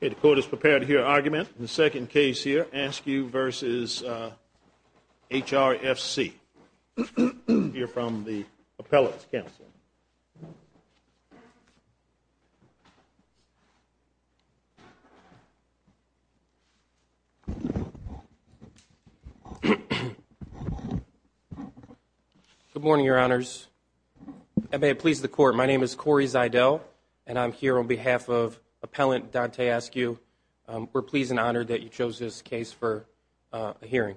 Okay, the court is prepared to hear argument in the second case here, Askew v. HRFC. We'll hear from the appellate counsel. Good morning, Your Honors. And may it please the court, my name is Corey Zeidel, and I'm here on behalf of Appellant Dante Askew. We're pleased and honored that you chose this case for a hearing.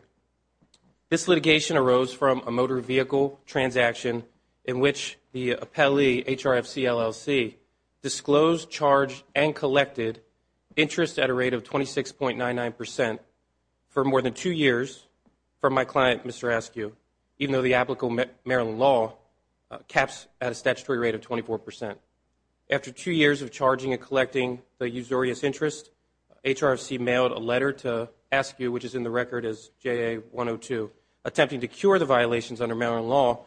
This litigation arose from a motor vehicle transaction in which the appellee, HRFC, LLC, disclosed, charged, and collected interest at a rate of 26.99% for more than two years from my client, Mr. Askew, even though the applicable Maryland law caps at a statutory rate of 24%. After two years of charging and collecting the usurious interest, HRFC mailed a letter to Askew, which is in the record as JA-102, attempting to cure the violations under Maryland law,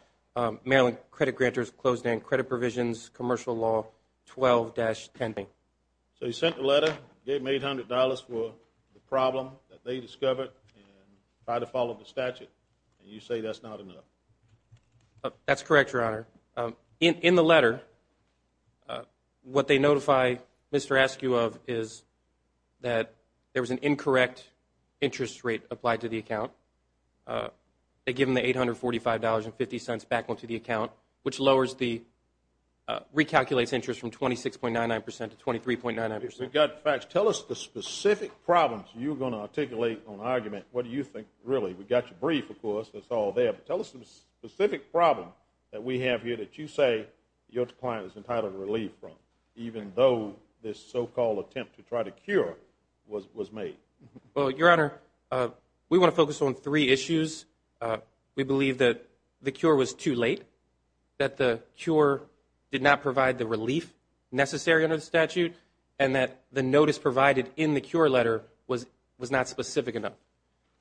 Maryland Credit Granters Closed-End Credit Provisions Commercial Law 12-10. So you sent the letter, gave them $800 for the problem that they discovered, and tried to follow the statute, and you say that's not enough. That's correct, Your Honor. In the letter, what they notify Mr. Askew of is that there was an incorrect interest rate applied to the account. They give him the $845.50 back onto the account, which recalculates interest from 26.99% to 23.99%. We've got facts. Tell us the specific problems you're going to articulate on argument. What do you think, really? We've got your brief, of course. It's all there. But tell us the specific problem that we have here that you say your client is entitled to relief from, even though this so-called attempt to try to cure was made. Well, Your Honor, we want to focus on three issues. We believe that the cure was too late, that the cure did not provide the relief necessary under the statute, and that the notice provided in the cure letter was not specific enough.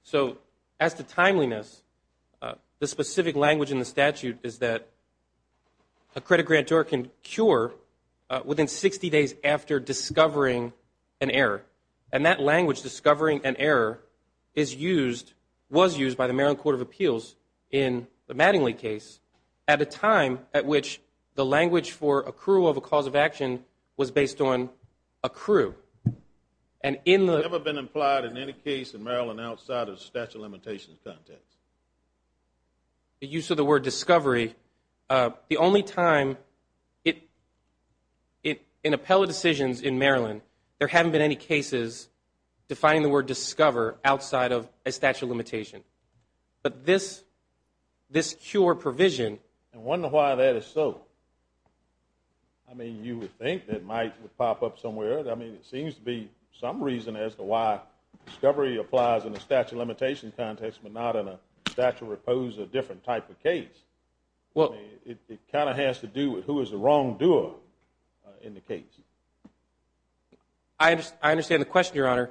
So as to timeliness, the specific language in the statute is that a credit grantor can cure within 60 days after discovering an error. And that language, discovering an error, is used, was used by the Maryland Court of Appeals in the Mattingly case at a time at which the language for accrual of a cause of action was based on accrue. Has it ever been implied in any case in Maryland outside of the statute of limitations context? The use of the word discovery, the only time in appellate decisions in Maryland, there haven't been any cases defining the word discover outside of a statute of limitation. But this cure provision I wonder why that is so. I mean, you would think that might pop up somewhere. I mean, it seems to be some reason as to why discovery applies in a statute of limitation context but not in a statute that opposes a different type of case. It kind of has to do with who is the wrongdoer in the case. I understand the question, Your Honor.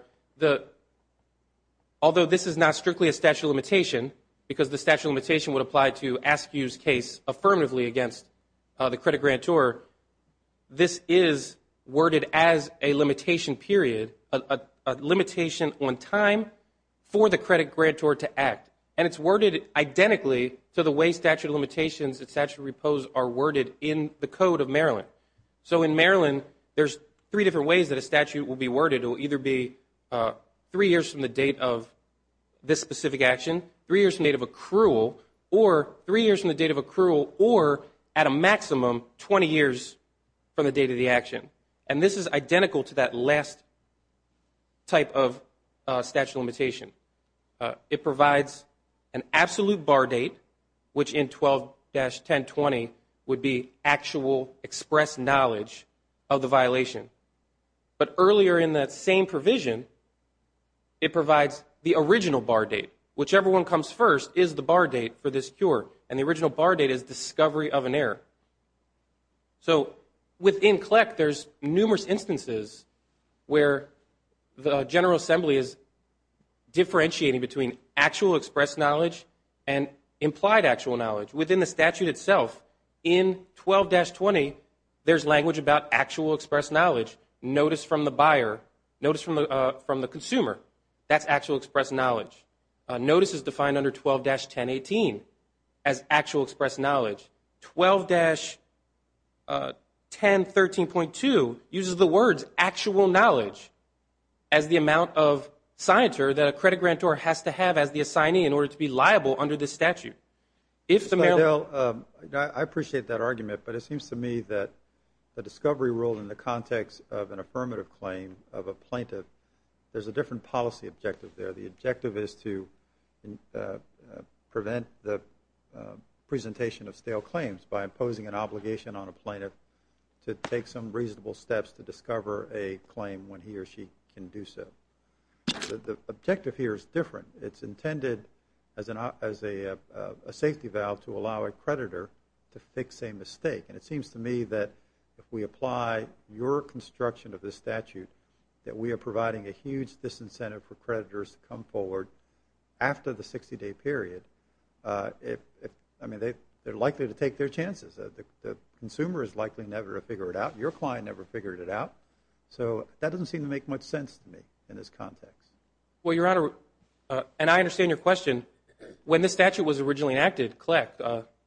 Although this is not strictly a statute of limitation because the statute of limitation would apply to Askew's case affirmatively against the credit grantor, this is worded as a limitation period, a limitation on time for the credit grantor to act. And it's worded identically to the way statute of limitations and statute of repose are worded in the Code of Maryland. So in Maryland, there's three different ways that a statute will be worded. It will either be three years from the date of this specific action, three years from the date of accrual, or three years from the date of accrual or, at a maximum, 20 years from the date of the action. And this is identical to that last type of statute of limitation. It provides an absolute bar date, which in 12-1020 would be actual expressed knowledge of the violation. But earlier in that same provision, it provides the original bar date. Whichever one comes first is the bar date for this cure, and the original bar date is discovery of an error. So within CLEC, there's numerous instances where the General Assembly is differentiating between actual expressed knowledge and implied actual knowledge. Within the statute itself, in 12-20, there's language about actual expressed knowledge. Notice from the buyer, notice from the consumer, that's actual expressed knowledge. Notice is defined under 12-1018 as actual expressed knowledge. 12-1013.2 uses the words actual knowledge as the amount of signature that a credit grantor has to have as the assignee in order to be liable under this statute. Mr. Fiedle, I appreciate that argument, but it seems to me that the discovery rule in the context of an affirmative claim of a plaintiff, there's a different policy objective there. The objective is to prevent the presentation of stale claims by imposing an obligation on a plaintiff to take some reasonable steps to discover a claim when he or she can do so. The objective here is different. It's intended as a safety valve to allow a creditor to fix a mistake. And it seems to me that if we apply your construction of this statute, that we are providing a huge disincentive for creditors to come forward after the 60-day period, I mean, they're likely to take their chances. The consumer is likely never to figure it out. Your client never figured it out. So that doesn't seem to make much sense to me in this context. Well, Your Honor, and I understand your question. When this statute was originally enacted, correct,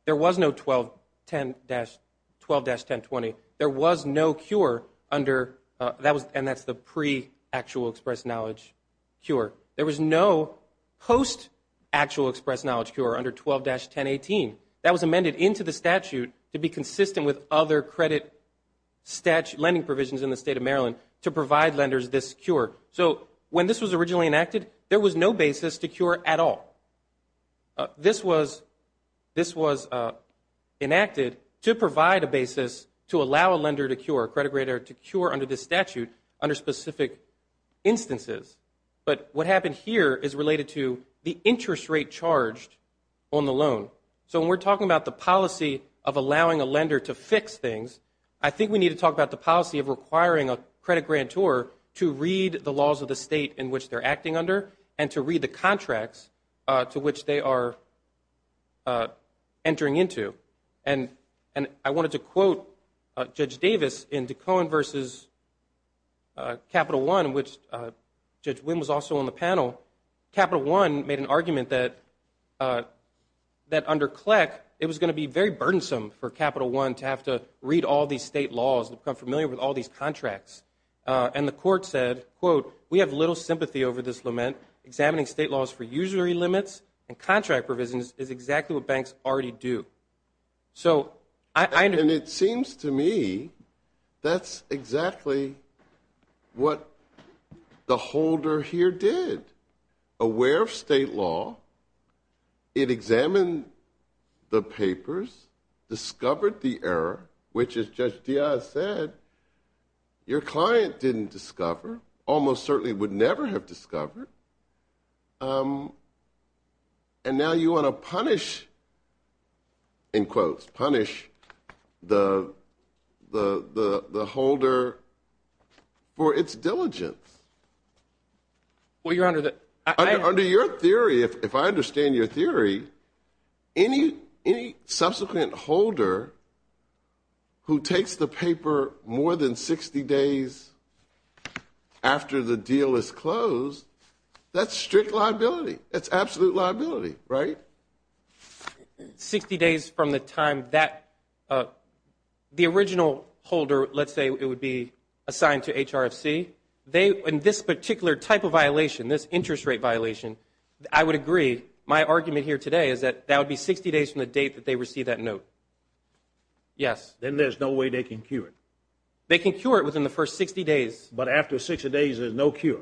there was no 12-1020. There was no cure under, and that's the pre-actual express knowledge cure. There was no post-actual express knowledge cure under 12-1018. That was amended into the statute to be consistent with other credit lending provisions in the State of Maryland to provide lenders this cure. So when this was originally enacted, there was no basis to cure at all. This was enacted to provide a basis to allow a lender to cure, a credit grader to cure under this statute under specific instances. But what happened here is related to the interest rate charged on the loan. So when we're talking about the policy of allowing a lender to fix things, I think we need to talk about the policy of requiring a credit grantor to read the laws of the State in which they're acting under and to read the contracts to which they are entering into. And I wanted to quote Judge Davis in DeCohen v. Capital One, which Judge Wynn was also on the panel. Capital One made an argument that under CLEC it was going to be very burdensome for Capital One to have to read all these State laws and become familiar with all these contracts. And the court said, quote, we have little sympathy over this lament. Examining State laws for usury limits and contract provisions is exactly what banks already do. And it seems to me that's exactly what the holder here did. Aware of State law, it examined the papers, discovered the error, which, as Judge Diaz said, your client didn't discover, almost certainly would never have discovered. And now you want to punish, in quotes, punish the holder for its diligence. Under your theory, if I understand your theory, any subsequent holder who takes the paper more than 60 days after the deal is closed, that's strict liability. That's absolute liability, right? Sixty days from the time that the original holder, let's say it would be assigned to HRFC. They, in this particular type of violation, this interest rate violation, I would agree, my argument here today is that that would be 60 days from the date that they received that note. Yes. Then there's no way they can cure it. They can cure it within the first 60 days. No, Your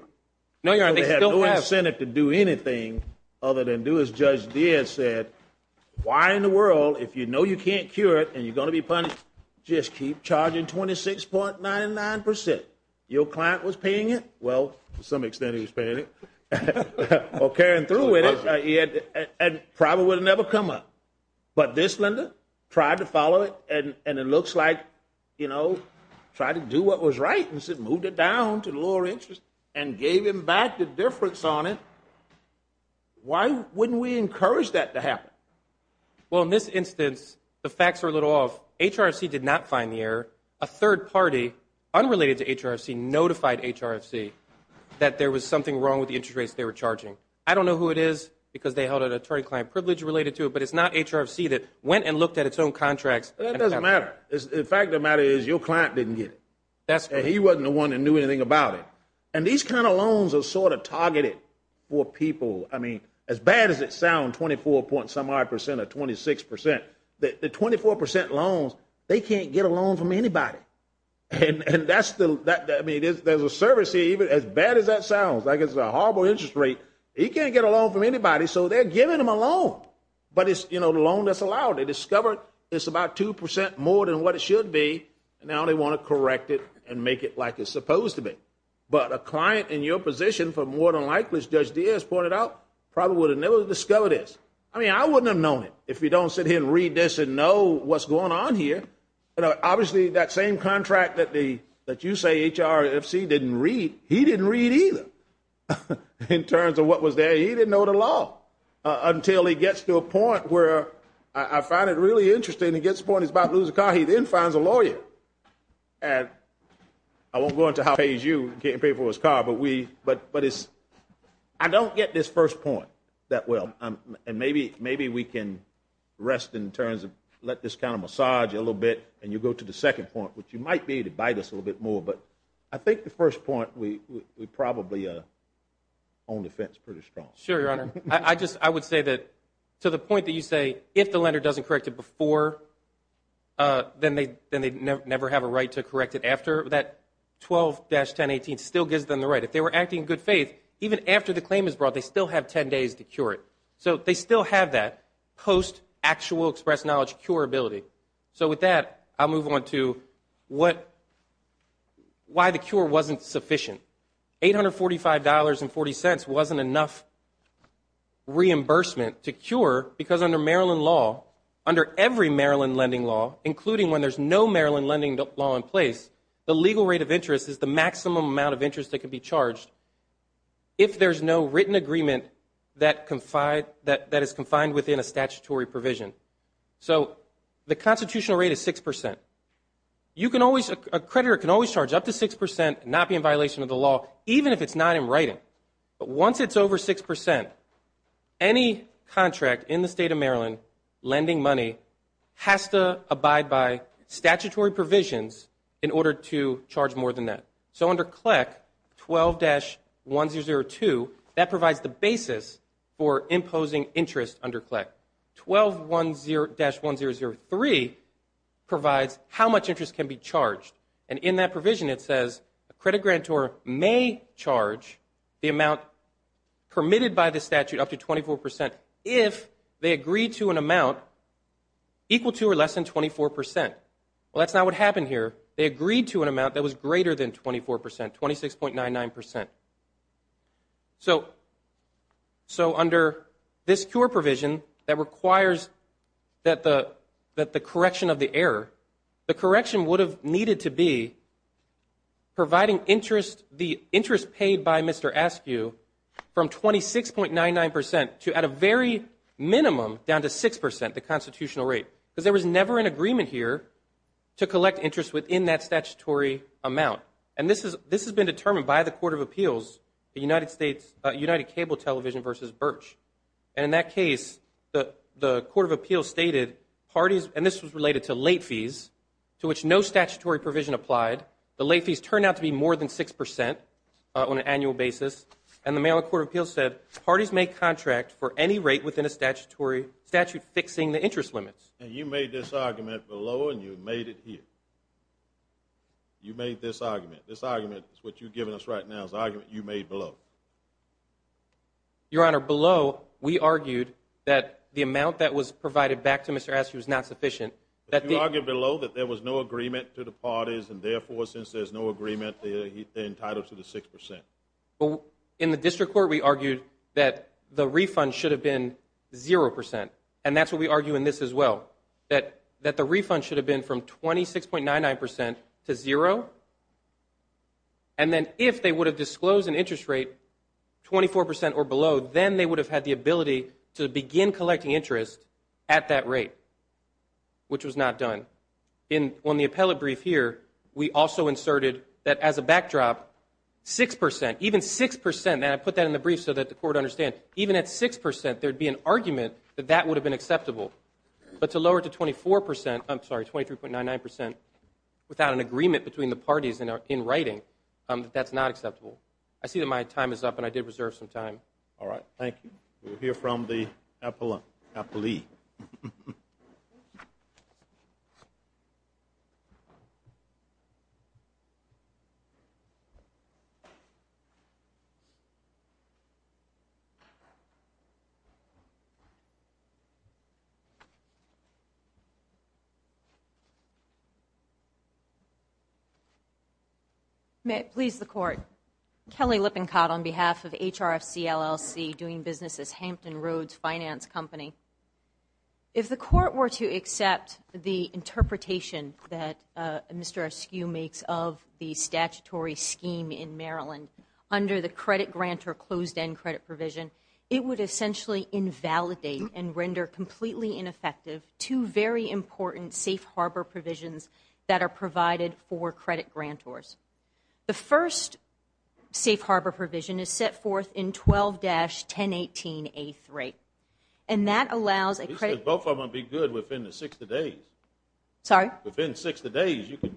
Honor. They have no incentive to do anything other than do as Judge Diaz said. Why in the world, if you know you can't cure it and you're going to be punished, just keep charging 26.99%. Your client was paying it. Well, to some extent, he was paying it or carrying through with it, and probably would have never come up. But this lender tried to follow it, and it looks like, you know, tried to do what was right and moved it down to the lower interest and gave him back the difference on it. Why wouldn't we encourage that to happen? Well, in this instance, the facts are a little off. HRFC did not find the error. A third party unrelated to HRFC notified HRFC that there was something wrong with the interest rates they were charging. I don't know who it is because they held an attorney-client privilege related to it, but it's not HRFC that went and looked at its own contracts. That doesn't matter. The fact of the matter is your client didn't get it. He wasn't the one that knew anything about it. And these kind of loans are sort of targeted for people. I mean, as bad as it sounds, 24.5% or 26%, the 24% loans, they can't get a loan from anybody. And that's the – I mean, there's a service here, even as bad as that sounds, like it's a horrible interest rate, he can't get a loan from anybody, so they're giving him a loan. But it's, you know, the loan that's allowed. They discovered it's about 2% more than what it should be, and now they want to correct it and make it like it's supposed to be. But a client in your position, for more than likely, as Judge Diaz pointed out, probably would have never discovered this. I mean, I wouldn't have known it if you don't sit here and read this and know what's going on here. Obviously, that same contract that you say HRFC didn't read, he didn't read either in terms of what was there. And he didn't know the law until he gets to a point where I find it really interesting. He gets to the point he's about to lose a car. He then finds a lawyer. And I won't go into how he pays you to pay for his car, but we – but it's – I don't get this first point that well. And maybe we can rest in terms of let this kind of massage you a little bit, and you go to the second point, which you might be to bite us a little bit more. But I think the first point we probably own the fence pretty strong. Sure, Your Honor. I just – I would say that to the point that you say if the lender doesn't correct it before, then they never have a right to correct it after, that 12-1018 still gives them the right. If they were acting in good faith, even after the claim is brought, they still have 10 days to cure it. So they still have that post-actual express knowledge cure ability. So with that, I'll move on to what – why the cure wasn't sufficient. $845.40 wasn't enough reimbursement to cure because under Maryland law, under every Maryland lending law, including when there's no Maryland lending law in place, the legal rate of interest is the maximum amount of interest that can be charged if there's no written agreement that is confined within a statutory provision. So the constitutional rate is 6%. You can always – a creditor can always charge up to 6% and not be in violation of the law, even if it's not in writing. But once it's over 6%, any contract in the state of Maryland lending money has to abide by statutory provisions in order to charge more than that. So under CLEC, 12-1002, that provides the basis for imposing interest under CLEC. 12-1003 provides how much interest can be charged. And in that provision it says a credit grantor may charge the amount permitted by the statute up to 24% if they agree to an amount equal to or less than 24%. Well, that's not what happened here. They agreed to an amount that was greater than 24%, 26.99%. So under this CURE provision that requires that the correction of the error, the correction would have needed to be providing the interest paid by Mr. Askew from 26.99% to at a very minimum down to 6%, the constitutional rate, because there was never an agreement here to collect interest within that statutory amount. And this has been determined by the Court of Appeals, United Cable Television v. Birch. And in that case, the Court of Appeals stated parties, and this was related to late fees, to which no statutory provision applied. The late fees turned out to be more than 6% on an annual basis. And the Maryland Court of Appeals said parties may contract for any rate within a statutory statute fixing the interest limits. And you made this argument below and you made it here. You made this argument. This argument is what you're giving us right now is the argument you made below. Your Honor, below, we argued that the amount that was provided back to Mr. Askew was not sufficient. But you argued below that there was no agreement to the parties, and therefore, since there's no agreement, they're entitled to the 6%. Well, in the district court, we argued that the refund should have been 0%, and that's what we argue in this as well, that the refund should have been from 26.99% to 0%. And then if they would have disclosed an interest rate 24% or below, then they would have had the ability to begin collecting interest at that rate, which was not done. On the appellate brief here, we also inserted that as a backdrop, 6%, even 6%, and I put that in the brief so that the Court would understand. Even at 6%, there would be an argument that that would have been acceptable. But to lower it to 24%, I'm sorry, 23.99%, without an agreement between the parties in writing, that's not acceptable. I see that my time is up, and I did reserve some time. All right, thank you. We'll hear from the appellee. May it please the Court. Kelly Lippincott on behalf of HRFC, LLC, doing business as Hampton Roads Finance Company. If the Court were to accept the interpretation that Mr. Eskew makes of the statutory scheme in Maryland under the credit grant or closed-end credit provision, it would essentially invalidate and render completely inaccurate and ineffective two very important safe harbor provisions that are provided for credit grantors. The first safe harbor provision is set forth in 12-1018A3, and that allows a credit grant. Both of them would be good within the 60 days. Sorry? Within 60 days, you could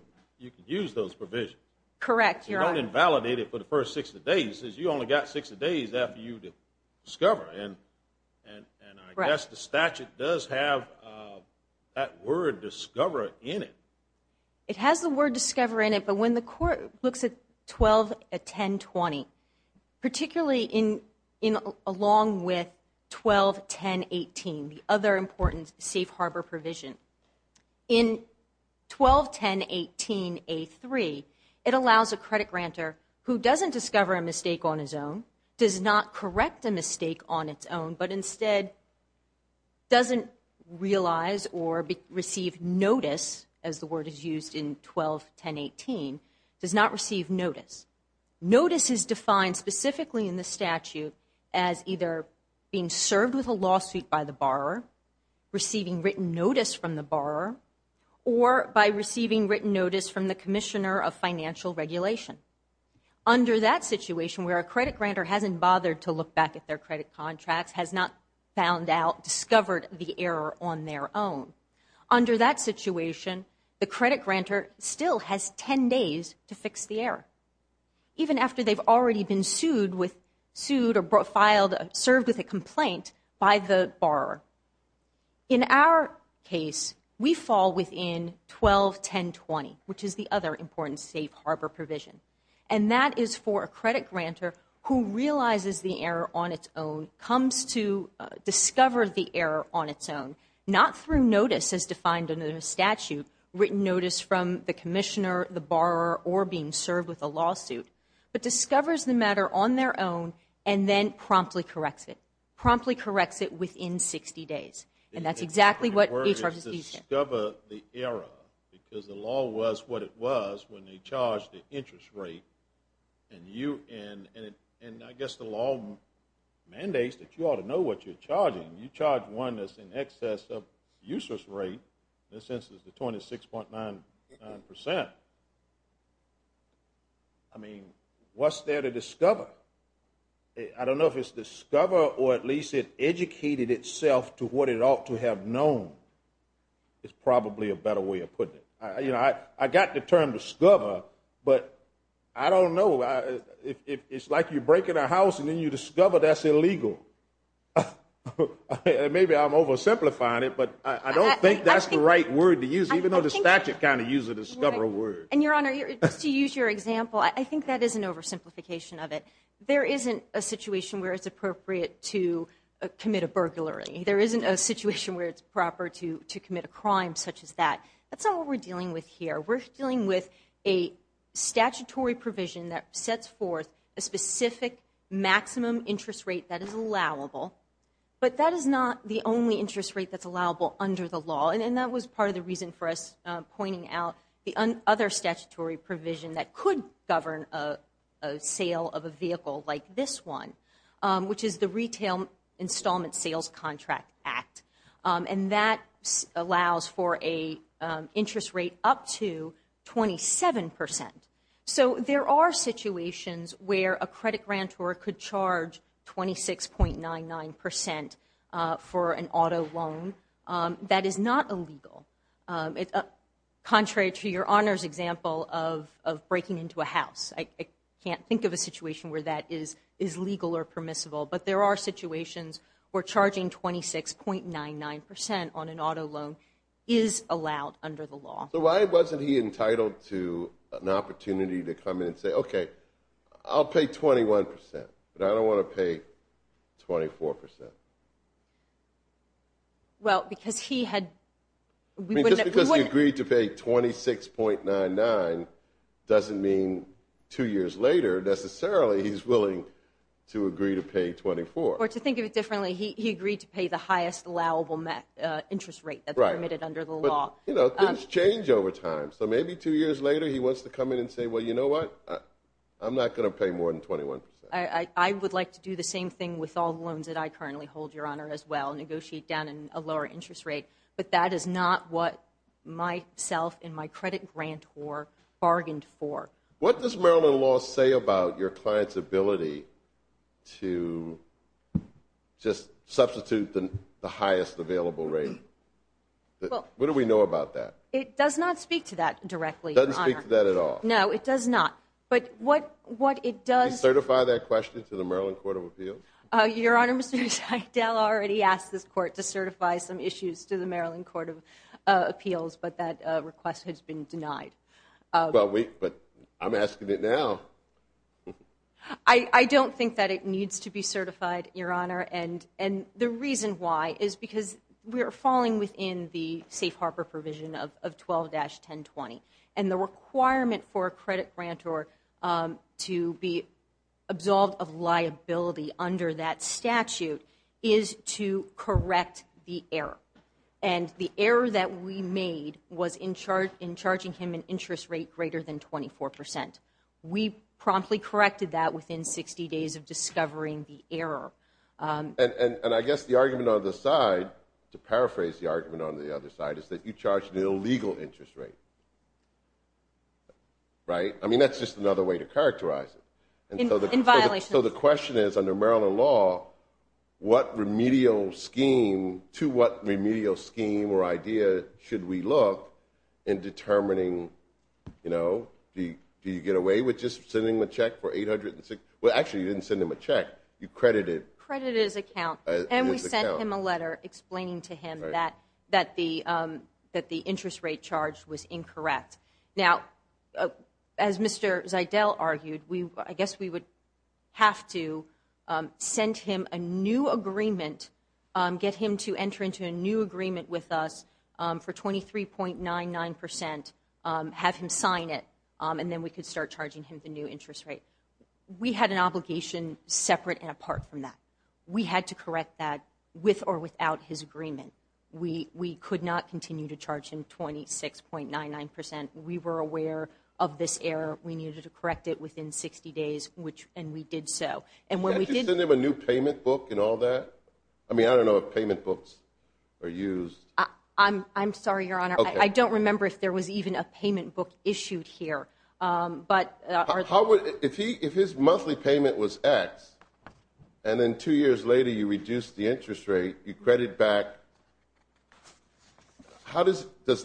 use those provisions. Correct, Your Honor. You don't invalidate it for the first 60 days. You only got 60 days after you discover, and I guess the statute does have that word discover in it. It has the word discover in it, but when the Court looks at 12-1020, particularly along with 12-1018, the other important safe harbor provision, in 12-1018A3, it allows a credit grantor who doesn't discover a mistake on his own, does not correct a mistake on its own, but instead doesn't realize or receive notice, as the word is used in 12-1018, does not receive notice. Notice is defined specifically in the statute as either being served with a lawsuit by the borrower, receiving written notice from the borrower, or by receiving written notice from the Commissioner of Financial Regulation. Under that situation, where a credit grantor hasn't bothered to look back at their credit contracts, has not found out, discovered the error on their own, under that situation, the credit grantor still has 10 days to fix the error, even after they've already been sued or filed, served with a complaint by the borrower. In our case, we fall within 12-1020, which is the other important safe harbor provision. And that is for a credit grantor who realizes the error on its own, comes to discover the error on its own, not through notice as defined in the statute, written notice from the Commissioner, the borrower, or being served with a lawsuit, but discovers the matter on their own and then promptly corrects it, promptly corrects it within 60 days. And that's exactly what HRS is using. Discover the error, because the law was what it was when they charged the interest rate, and I guess the law mandates that you ought to know what you're charging. You charge one that's in excess of the useless rate, in this instance, the 26.99%. I mean, what's there to discover? I don't know if it's discover or at least it educated itself to what it ought to have known is probably a better way of putting it. I got the term discover, but I don't know. It's like you're breaking a house and then you discover that's illegal. Maybe I'm oversimplifying it, but I don't think that's the right word to use, even though the statute kind of uses the discoverer word. And, Your Honor, just to use your example, I think that is an oversimplification of it. There isn't a situation where it's appropriate to commit a burglary. There isn't a situation where it's proper to commit a crime such as that. That's not what we're dealing with here. We're dealing with a statutory provision that sets forth a specific maximum interest rate that is allowable, but that is not the only interest rate that's allowable under the law, and that was part of the reason for us pointing out the other statutory provision that could govern a sale of a vehicle like this one, which is the Retail Installment Sales Contract Act, and that allows for an interest rate up to 27 percent. So there are situations where a credit grantor could charge 26.99 percent for an auto loan. That is not illegal. Contrary to Your Honor's example of breaking into a house, I can't think of a situation where that is legal or permissible, but there are situations where charging 26.99 percent on an auto loan is allowed under the law. So why wasn't he entitled to an opportunity to come in and say, okay, I'll pay 21 percent, but I don't want to pay 24 percent? Just because he agreed to pay 26.99 doesn't mean two years later necessarily he's willing to agree to pay 24. Or to think of it differently, he agreed to pay the highest allowable interest rate that's permitted under the law. But things change over time. So maybe two years later he wants to come in and say, well, you know what, I'm not going to pay more than 21 percent. I would like to do the same thing with all loans that I currently hold, Your Honor, as well, negotiate down a lower interest rate. But that is not what myself and my credit grantor bargained for. What does Maryland law say about your client's ability to just substitute the highest available rate? What do we know about that? It does not speak to that directly, Your Honor. It doesn't speak to that at all? No, it does not. Do you certify that question to the Maryland Court of Appeals? Your Honor, Mr. Seidel already asked this court to certify some issues to the Maryland Court of Appeals, but that request has been denied. But I'm asking it now. I don't think that it needs to be certified, Your Honor. And the reason why is because we are falling within the safe harbor provision of 12-1020. And the requirement for a credit grantor to be absolved of liability under that statute is to correct the error. And the error that we made was in charging him an interest rate greater than 24 percent. We promptly corrected that within 60 days of discovering the error. And I guess the argument on the side, to paraphrase the argument on the other side, is that you charged an illegal interest rate. Right? I mean, that's just another way to characterize it. In violation. So the question is, under Maryland law, what remedial scheme, to what remedial scheme or idea should we look in determining, you know, do you get away with just sending the check for 860? Well, actually, you didn't send him a check. You credited. Credited his account. And we sent him a letter explaining to him that the interest rate charged was incorrect. Now, as Mr. Zeidel argued, I guess we would have to send him a new agreement, get him to enter into a new agreement with us for 23.99 percent, have him sign it, and then we could start charging him the new interest rate. We had an obligation separate and apart from that. We had to correct that with or without his agreement. We could not continue to charge him 26.99 percent. We were aware of this error. We needed to correct it within 60 days, and we did so. Did you send him a new payment book and all that? I mean, I don't know if payment books are used. I'm sorry, Your Honor. I don't remember if there was even a payment book issued here. If his monthly payment was X and then two years later you reduced the interest rate, you credit back, does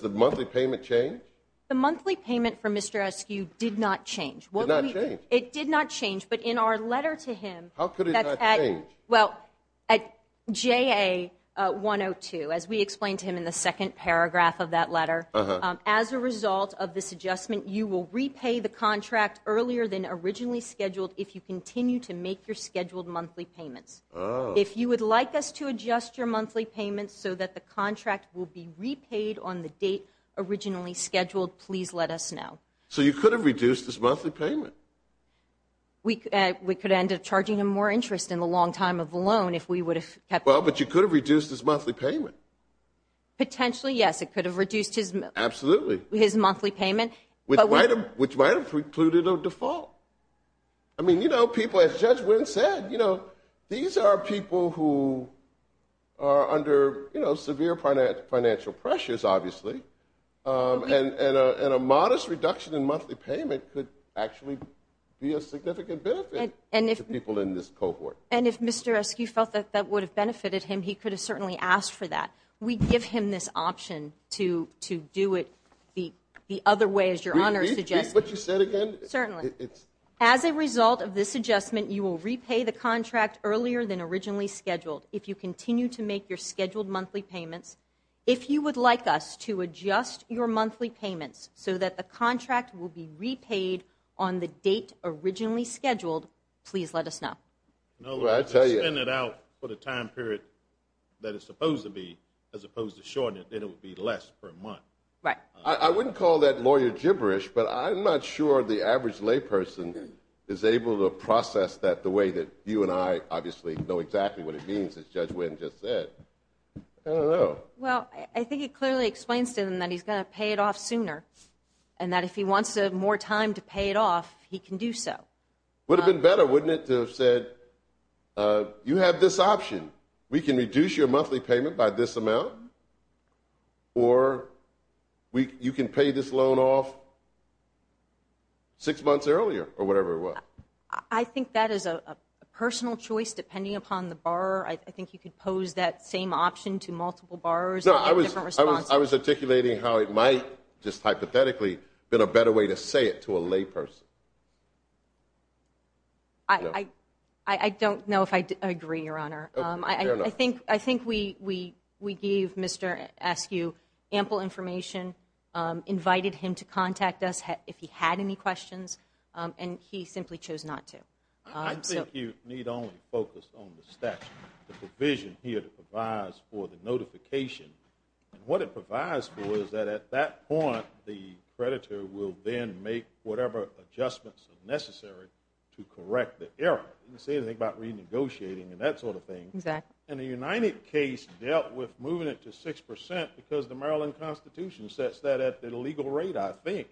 the monthly payment change? The monthly payment from Mr. Eskew did not change. It did not change. It did not change, but in our letter to him. How could it not change? Well, at JA 102, as we explained to him in the second paragraph of that letter, as a result of this adjustment, you will repay the contract earlier than originally scheduled if you continue to make your scheduled monthly payments. If you would like us to adjust your monthly payments so that the contract will be repaid on the date originally scheduled, please let us know. So you could have reduced his monthly payment? We could end up charging him more interest in the long time of the loan if we would have kept the contract. Well, but you could have reduced his monthly payment. Potentially, yes. It could have reduced his monthly payment. Absolutely. Which might have precluded a default. I mean, people, as Judge Wynn said, these are people who are under severe financial pressures, obviously, and a modest reduction in monthly payment could actually be a significant benefit to people in this cohort. And if Mr. Eskew felt that that would have benefited him, he could have certainly asked for that. We give him this option to do it the other way, as your Honor suggests. Repeat what you said again? Certainly. As a result of this adjustment, you will repay the contract earlier than originally scheduled if you continue to make your scheduled monthly payments. If you would like us to adjust your monthly payments so that the contract will be repaid on the date originally scheduled, please let us know. No, let's just spend it out for the time period that it's supposed to be, as opposed to shorten it, then it would be less per month. Right. I wouldn't call that lawyer gibberish, but I'm not sure the average layperson is able to process that the way that you and I obviously know exactly what it means, as Judge Wynn just said. I don't know. Well, I think it clearly explains to him that he's going to pay it off sooner, and that if he wants more time to pay it off, he can do so. It would have been better, wouldn't it, to have said, you have this option. We can reduce your monthly payment by this amount, or you can pay this loan off six months earlier, or whatever it was. I think that is a personal choice, depending upon the borrower. I think you could pose that same option to multiple borrowers. No, I was articulating how it might just hypothetically have been a better way to say it to a layperson. I don't know if I agree, Your Honor. Fair enough. I think we gave Mr. Askew ample information, invited him to contact us if he had any questions, and he simply chose not to. I think you need only focus on the statute, the provision here that provides for the notification. What it provides for is that at that point, the creditor will then make whatever adjustments are necessary to correct the error. It doesn't say anything about renegotiating and that sort of thing. Exactly. And the United case dealt with moving it to six percent because the Maryland Constitution sets that at the legal rate, I think.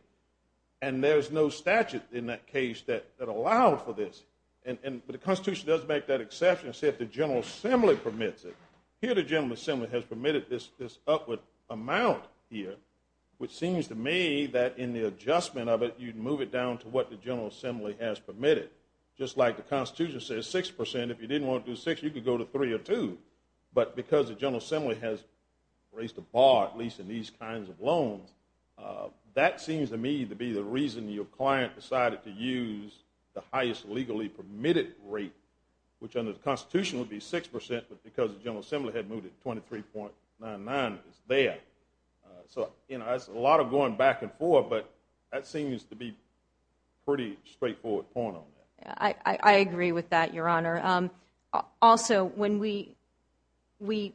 And there's no statute in that case that allowed for this. But the Constitution does make that exception and say if the General Assembly permits it. Here the General Assembly has permitted this upward amount here, which seems to me that in the adjustment of it, you'd move it down to what the General Assembly has permitted. Just like the Constitution says six percent, if you didn't want to do six, you could go to three or two. But because the General Assembly has raised the bar, at least in these kinds of loans, that seems to me to be the reason your client decided to use the highest legally permitted rate, which under the Constitution would be six percent, but because the General Assembly had moved it to 23.99, it's there. So, you know, that's a lot of going back and forth, but that seems to be a pretty straightforward point on that. I agree with that, Your Honor. Also, when we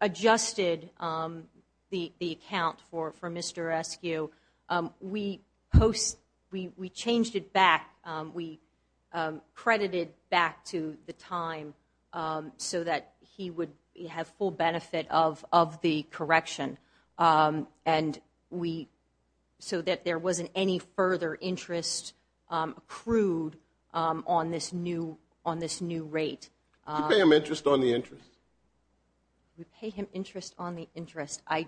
adjusted the account for Mr. Eskew, we changed it back. We credited back to the time so that he would have full benefit of the correction and so that there wasn't any further interest accrued on this new rate. Did you pay him interest on the interest? We paid him interest on the interest. I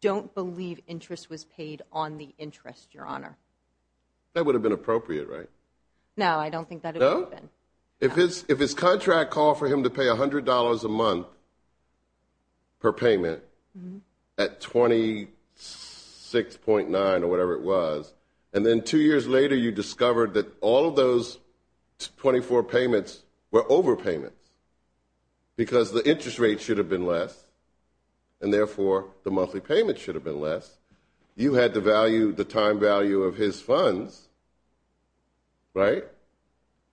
don't believe interest was paid on the interest, Your Honor. That would have been appropriate, right? No, I don't think that it would have been. If his contract called for him to pay $100 a month per payment at 26.9 or whatever it was, and then two years later you discovered that all of those 24 payments were overpayments because the interest rate should have been less and therefore the monthly payment should have been less, you had to value the time value of his funds, right?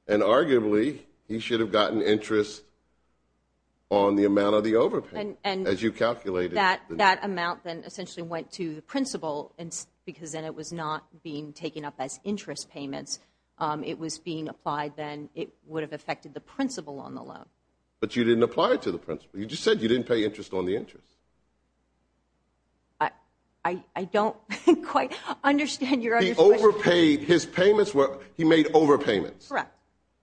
And arguably he should have gotten interest on the amount of the overpayment, as you calculated. That amount then essentially went to the principal because then it was not being taken up as interest payments. It was being applied then. It would have affected the principal on the loan. But you didn't apply it to the principal. You just said you didn't pay interest on the interest. I don't quite understand your understanding. He overpaid. His payments were, he made overpayments. Correct.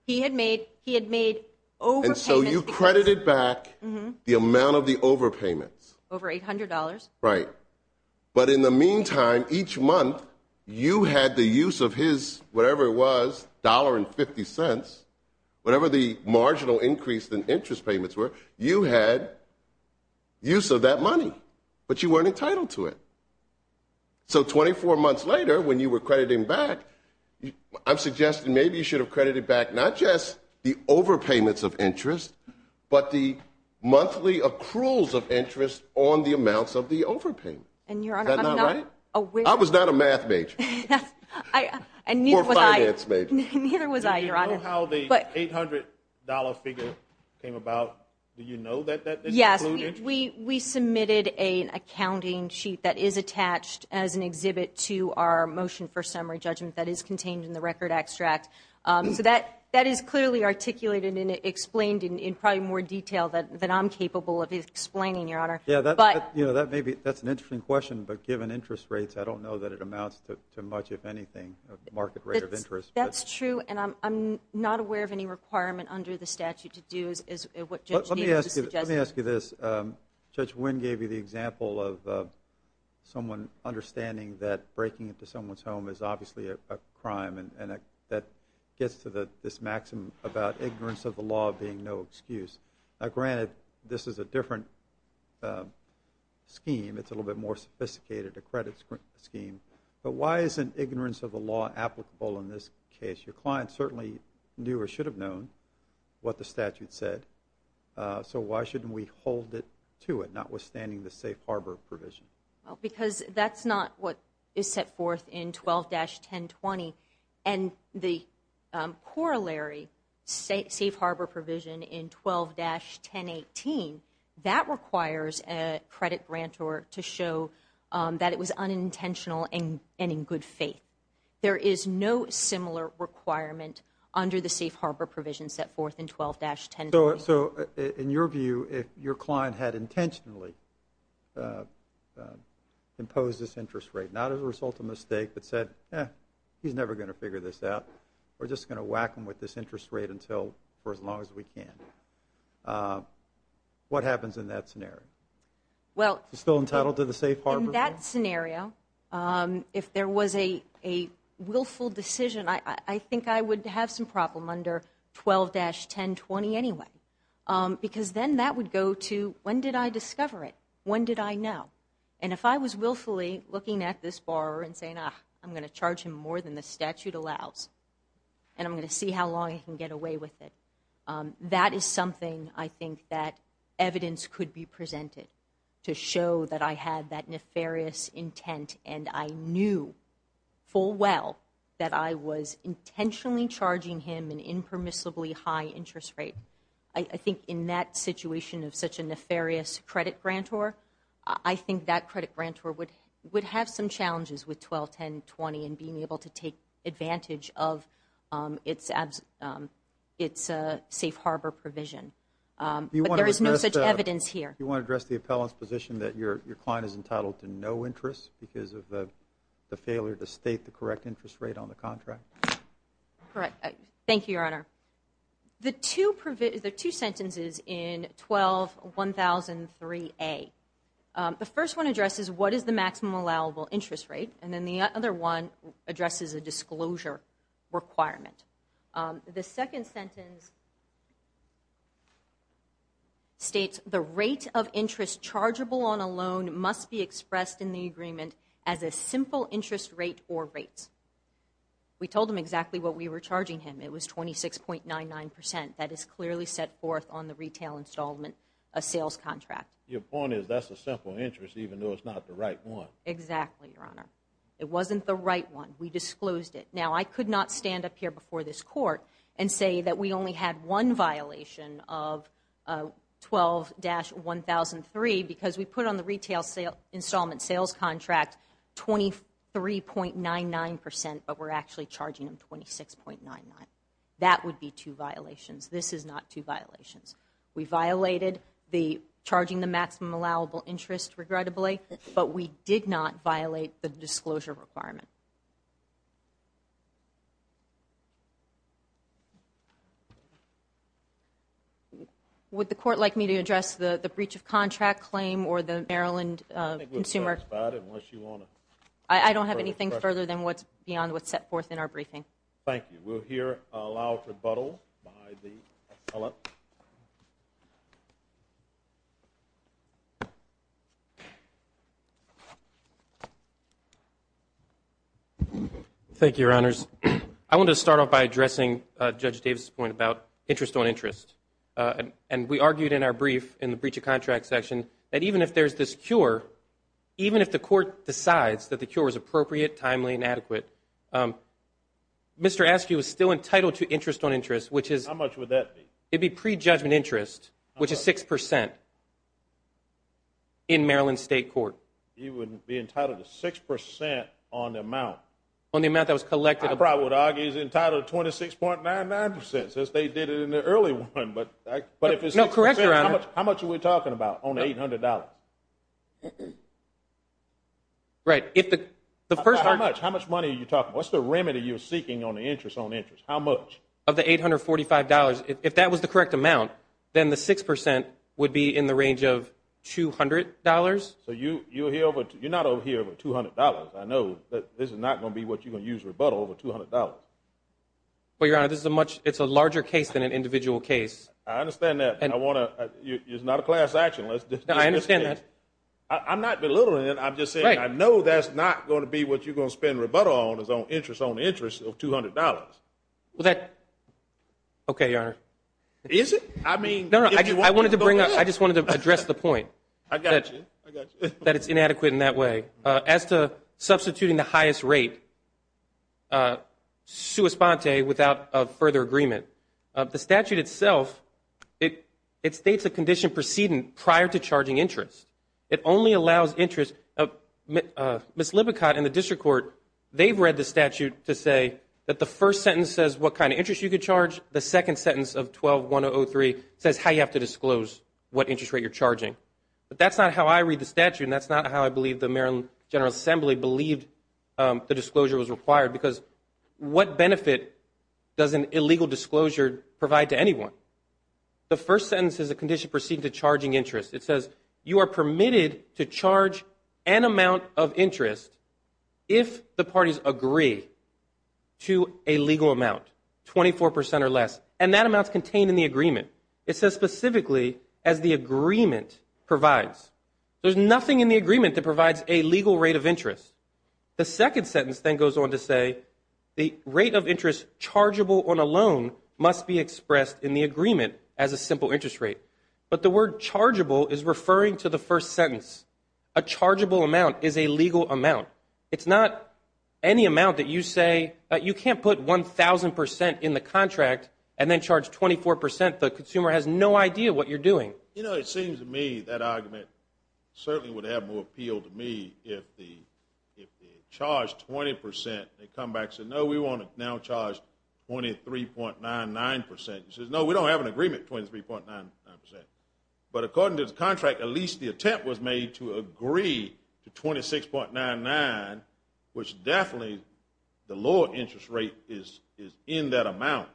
He had made overpayments. And so you credited back the amount of the overpayments. Over $800. Right. But in the meantime, each month you had the use of his, whatever it was, $1.50, whatever the marginal increase in interest payments were, you had use of that money, but you weren't entitled to it. So 24 months later when you were crediting back, I'm suggesting maybe you should have credited back not just the overpayments of interest, but the monthly accruals of interest on the amounts of the overpayment. And, Your Honor, I'm not aware. I was not a math major. And neither was I. Or a finance major. Neither was I, Your Honor. I don't know how the $800 figure came about. Do you know that that's included? Yes. We submitted an accounting sheet that is attached as an exhibit to our motion for summary judgment that is contained in the record extract. So that is clearly articulated and explained in probably more detail than I'm capable of explaining, Your Honor. Yeah, that may be, that's an interesting question. But given interest rates, I don't know that it amounts to much, if anything, market rate of interest. That's true. And I'm not aware of any requirement under the statute to do is what Judge Needham is suggesting. Let me ask you this. Judge Winn gave you the example of someone understanding that breaking into someone's home is obviously a crime. And that gets to this maxim about ignorance of the law being no excuse. Now, granted, this is a different scheme. It's a little bit more sophisticated, a credit scheme. But why isn't ignorance of the law applicable in this case? Your client certainly knew or should have known what the statute said. So why shouldn't we hold to it, notwithstanding the safe harbor provision? Well, because that's not what is set forth in 12-1020. And the corollary safe harbor provision in 12-1018, that requires a credit grantor to show that it was unintentional and in good faith. There is no similar requirement under the safe harbor provision set forth in 12-1020. So in your view, if your client had intentionally imposed this interest rate, not as a result of a mistake but said, eh, he's never going to figure this out, we're just going to whack him with this interest rate for as long as we can, what happens in that scenario? Is he still entitled to the safe harbor? In that scenario, if there was a willful decision, I think I would have some problem under 12-1020 anyway because then that would go to when did I discover it, when did I know. And if I was willfully looking at this borrower and saying, ah, I'm going to charge him more than the statute allows and I'm going to see how long he can get away with it, that is something I think that evidence could be presented to show that I had that nefarious intent and I knew full well that I was intentionally charging him an impermissibly high interest rate. I think in that situation of such a nefarious credit grantor, I think that credit grantor would have some challenges with 12-1020 and being able to take advantage of its safe harbor provision. But there is no such evidence here. You want to address the appellant's position that your client is entitled to no interest because of the failure to state the correct interest rate on the contract? Thank you, Your Honor. The two sentences in 12-1003A, the first one addresses what is the maximum allowable interest rate and then the other one addresses a disclosure requirement. The second sentence states, the rate of interest chargeable on a loan must be expressed in the agreement as a simple interest rate or rates. We told him exactly what we were charging him. It was 26.99%. That is clearly set forth on the retail installment of sales contract. Your point is that's a simple interest even though it's not the right one. Exactly, Your Honor. It wasn't the right one. We disclosed it. Now, I could not stand up here before this court and say that we only had one violation of 12-1003 because we put on the retail installment sales contract 23.99% but we're actually charging him 26.99%. That would be two violations. This is not two violations. We violated the charging the maximum allowable interest, regrettably, but we did not violate the disclosure requirement. Would the court like me to address the breach of contract claim or the Maryland consumer? I think we're satisfied unless you want to further the question. I don't have anything further than what's beyond what's set forth in our briefing. Thank you. We'll hear a loud rebuttal by the appellate. Thank you, Your Honors. I want to start off by addressing Judge Davis' point about interest on interest. We argued in our brief in the breach of contract section that even if there's this cure, even if the court decides that the cure is appropriate, timely, and adequate, Mr. Askew is still entitled to interest on interest. How much would that be? It would be prejudgment interest, which is 6% in Maryland State Court. He would be entitled to 6% on the amount? On the amount that was collected. I probably would argue he's entitled to 26.99% since they did it in the early one. But if it's 6%, how much are we talking about on $800? Right. How much money are you talking about? What's the remedy you're seeking on the interest on interest? How much? Of the $845. If that was the correct amount, then the 6% would be in the range of $200. So you're not over here with $200. I know that this is not going to be what you're going to use rebuttal over $200. Well, Your Honor, it's a larger case than an individual case. I understand that. It's not a class action. I understand that. I'm not belittling it. I'm just saying I know that's not going to be what you're going to spend rebuttal on, is on interest on interest of $200. Okay, Your Honor. Is it? I just wanted to address the point. I got you. That it's inadequate in that way. As to substituting the highest rate, sua sponte, without further agreement, the statute itself, it states a condition preceding prior to charging interest. It only allows interest. Ms. Lippincott in the district court, they've read the statute to say that the first sentence says what kind of interest you could charge. The second sentence of 12-1003 says how you have to disclose what interest rate you're charging. But that's not how I read the statute, and that's not how I believe the Maryland General Assembly believed the disclosure was required, because what benefit does an illegal disclosure provide to anyone? The first sentence is a condition preceding to charging interest. It says you are permitted to charge an amount of interest if the parties agree to a legal amount, 24% or less, and that amount's contained in the agreement. It says specifically as the agreement provides. There's nothing in the agreement that provides a legal rate of interest. The second sentence then goes on to say the rate of interest chargeable on a loan must be expressed in the agreement as a simple interest rate. But the word chargeable is referring to the first sentence. A chargeable amount is a legal amount. It's not any amount that you say you can't put 1,000% in the contract and then charge 24%. The consumer has no idea what you're doing. You know, it seems to me that argument certainly would have more appeal to me if the charge 20%, they come back and say, no, we want to now charge 23.99%. It says, no, we don't have an agreement, 23.99%. But according to the contract, at least the attempt was made to agree to 26.99%, which definitely the lower interest rate is in that amount.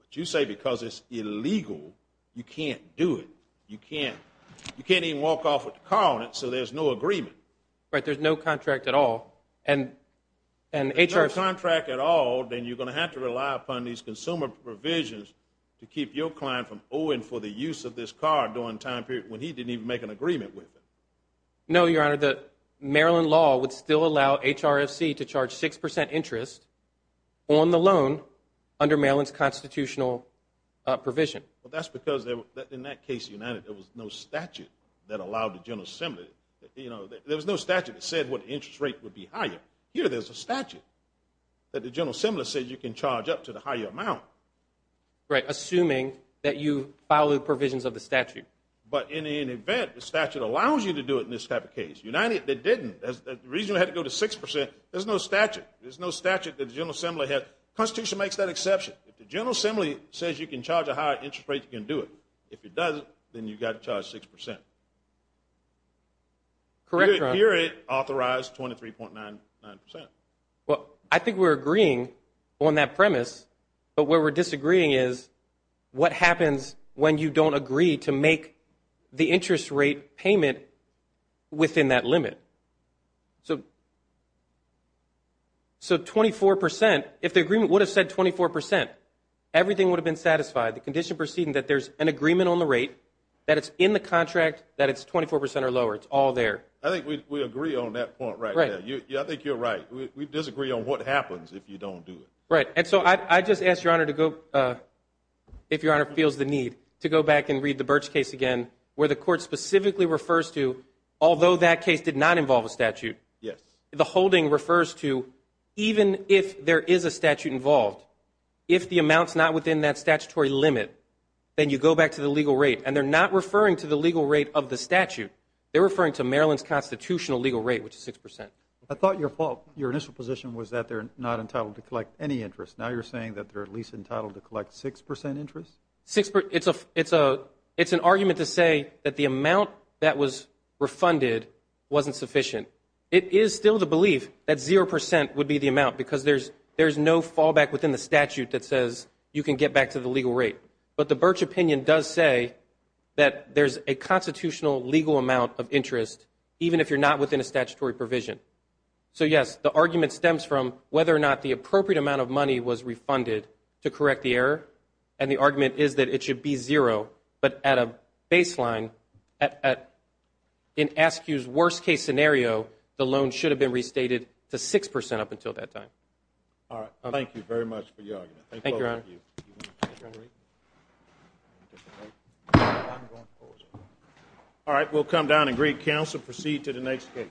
But you say because it's illegal, you can't do it. You can't even walk off with the car on it, so there's no agreement. Right, there's no contract at all. If there's no contract at all, then you're going to have to rely upon these consumer provisions to keep your client from owing for the use of this car during a time period when he didn't even make an agreement with it. No, Your Honor. The Maryland law would still allow HRFC to charge 6% interest on the loan under Maryland's constitutional provision. Well, that's because in that case, there was no statute that allowed the General Assembly. There was no statute that said what interest rate would be higher. Here there's a statute that the General Assembly says you can charge up to the higher amount. Right, assuming that you follow the provisions of the statute. But in any event, the statute allows you to do it in this type of case. United, they didn't. The reason we had to go to 6%, there's no statute. There's no statute that the General Assembly has. The Constitution makes that exception. If the General Assembly says you can charge a higher interest rate, you can do it. If it doesn't, then you've got to charge 6%. Correct, Your Honor. Here it authorized 23.99%. Well, I think we're agreeing on that premise, but where we're disagreeing is what happens when you don't agree to make the interest rate payment within that limit. So 24%, if the agreement would have said 24%, everything would have been satisfied. The condition proceeding that there's an agreement on the rate, that it's in the contract, that it's 24% or lower. It's all there. I think we agree on that point right now. I think you're right. We disagree on what happens if you don't do it. Right. And so I'd just ask, Your Honor, to go, if Your Honor feels the need, to go back and read the Birch case again where the Court specifically refers to, although that case did not involve a statute, the holding refers to even if there is a statute involved, if the amount's not within that statutory limit, then you go back to the legal rate. And they're not referring to the legal rate of the statute. They're referring to Maryland's constitutional legal rate, which is 6%. I thought your initial position was that they're not entitled to collect any interest. Now you're saying that they're at least entitled to collect 6% interest? It's an argument to say that the amount that was refunded wasn't sufficient. It is still the belief that 0% would be the amount, because there's no fallback within the statute that says you can get back to the legal rate. But the Birch opinion does say that there's a constitutional legal amount of interest, even if you're not within a statutory provision. So, yes, the argument stems from whether or not the appropriate amount of money was refunded to correct the error. And the argument is that it should be zero, but at a baseline, in ASCQ's worst-case scenario, the loan should have been restated to 6% up until that time. All right. Thank you very much for your argument. Thank you, Your Honor. All right. We'll come down and greet counsel and proceed to the next case.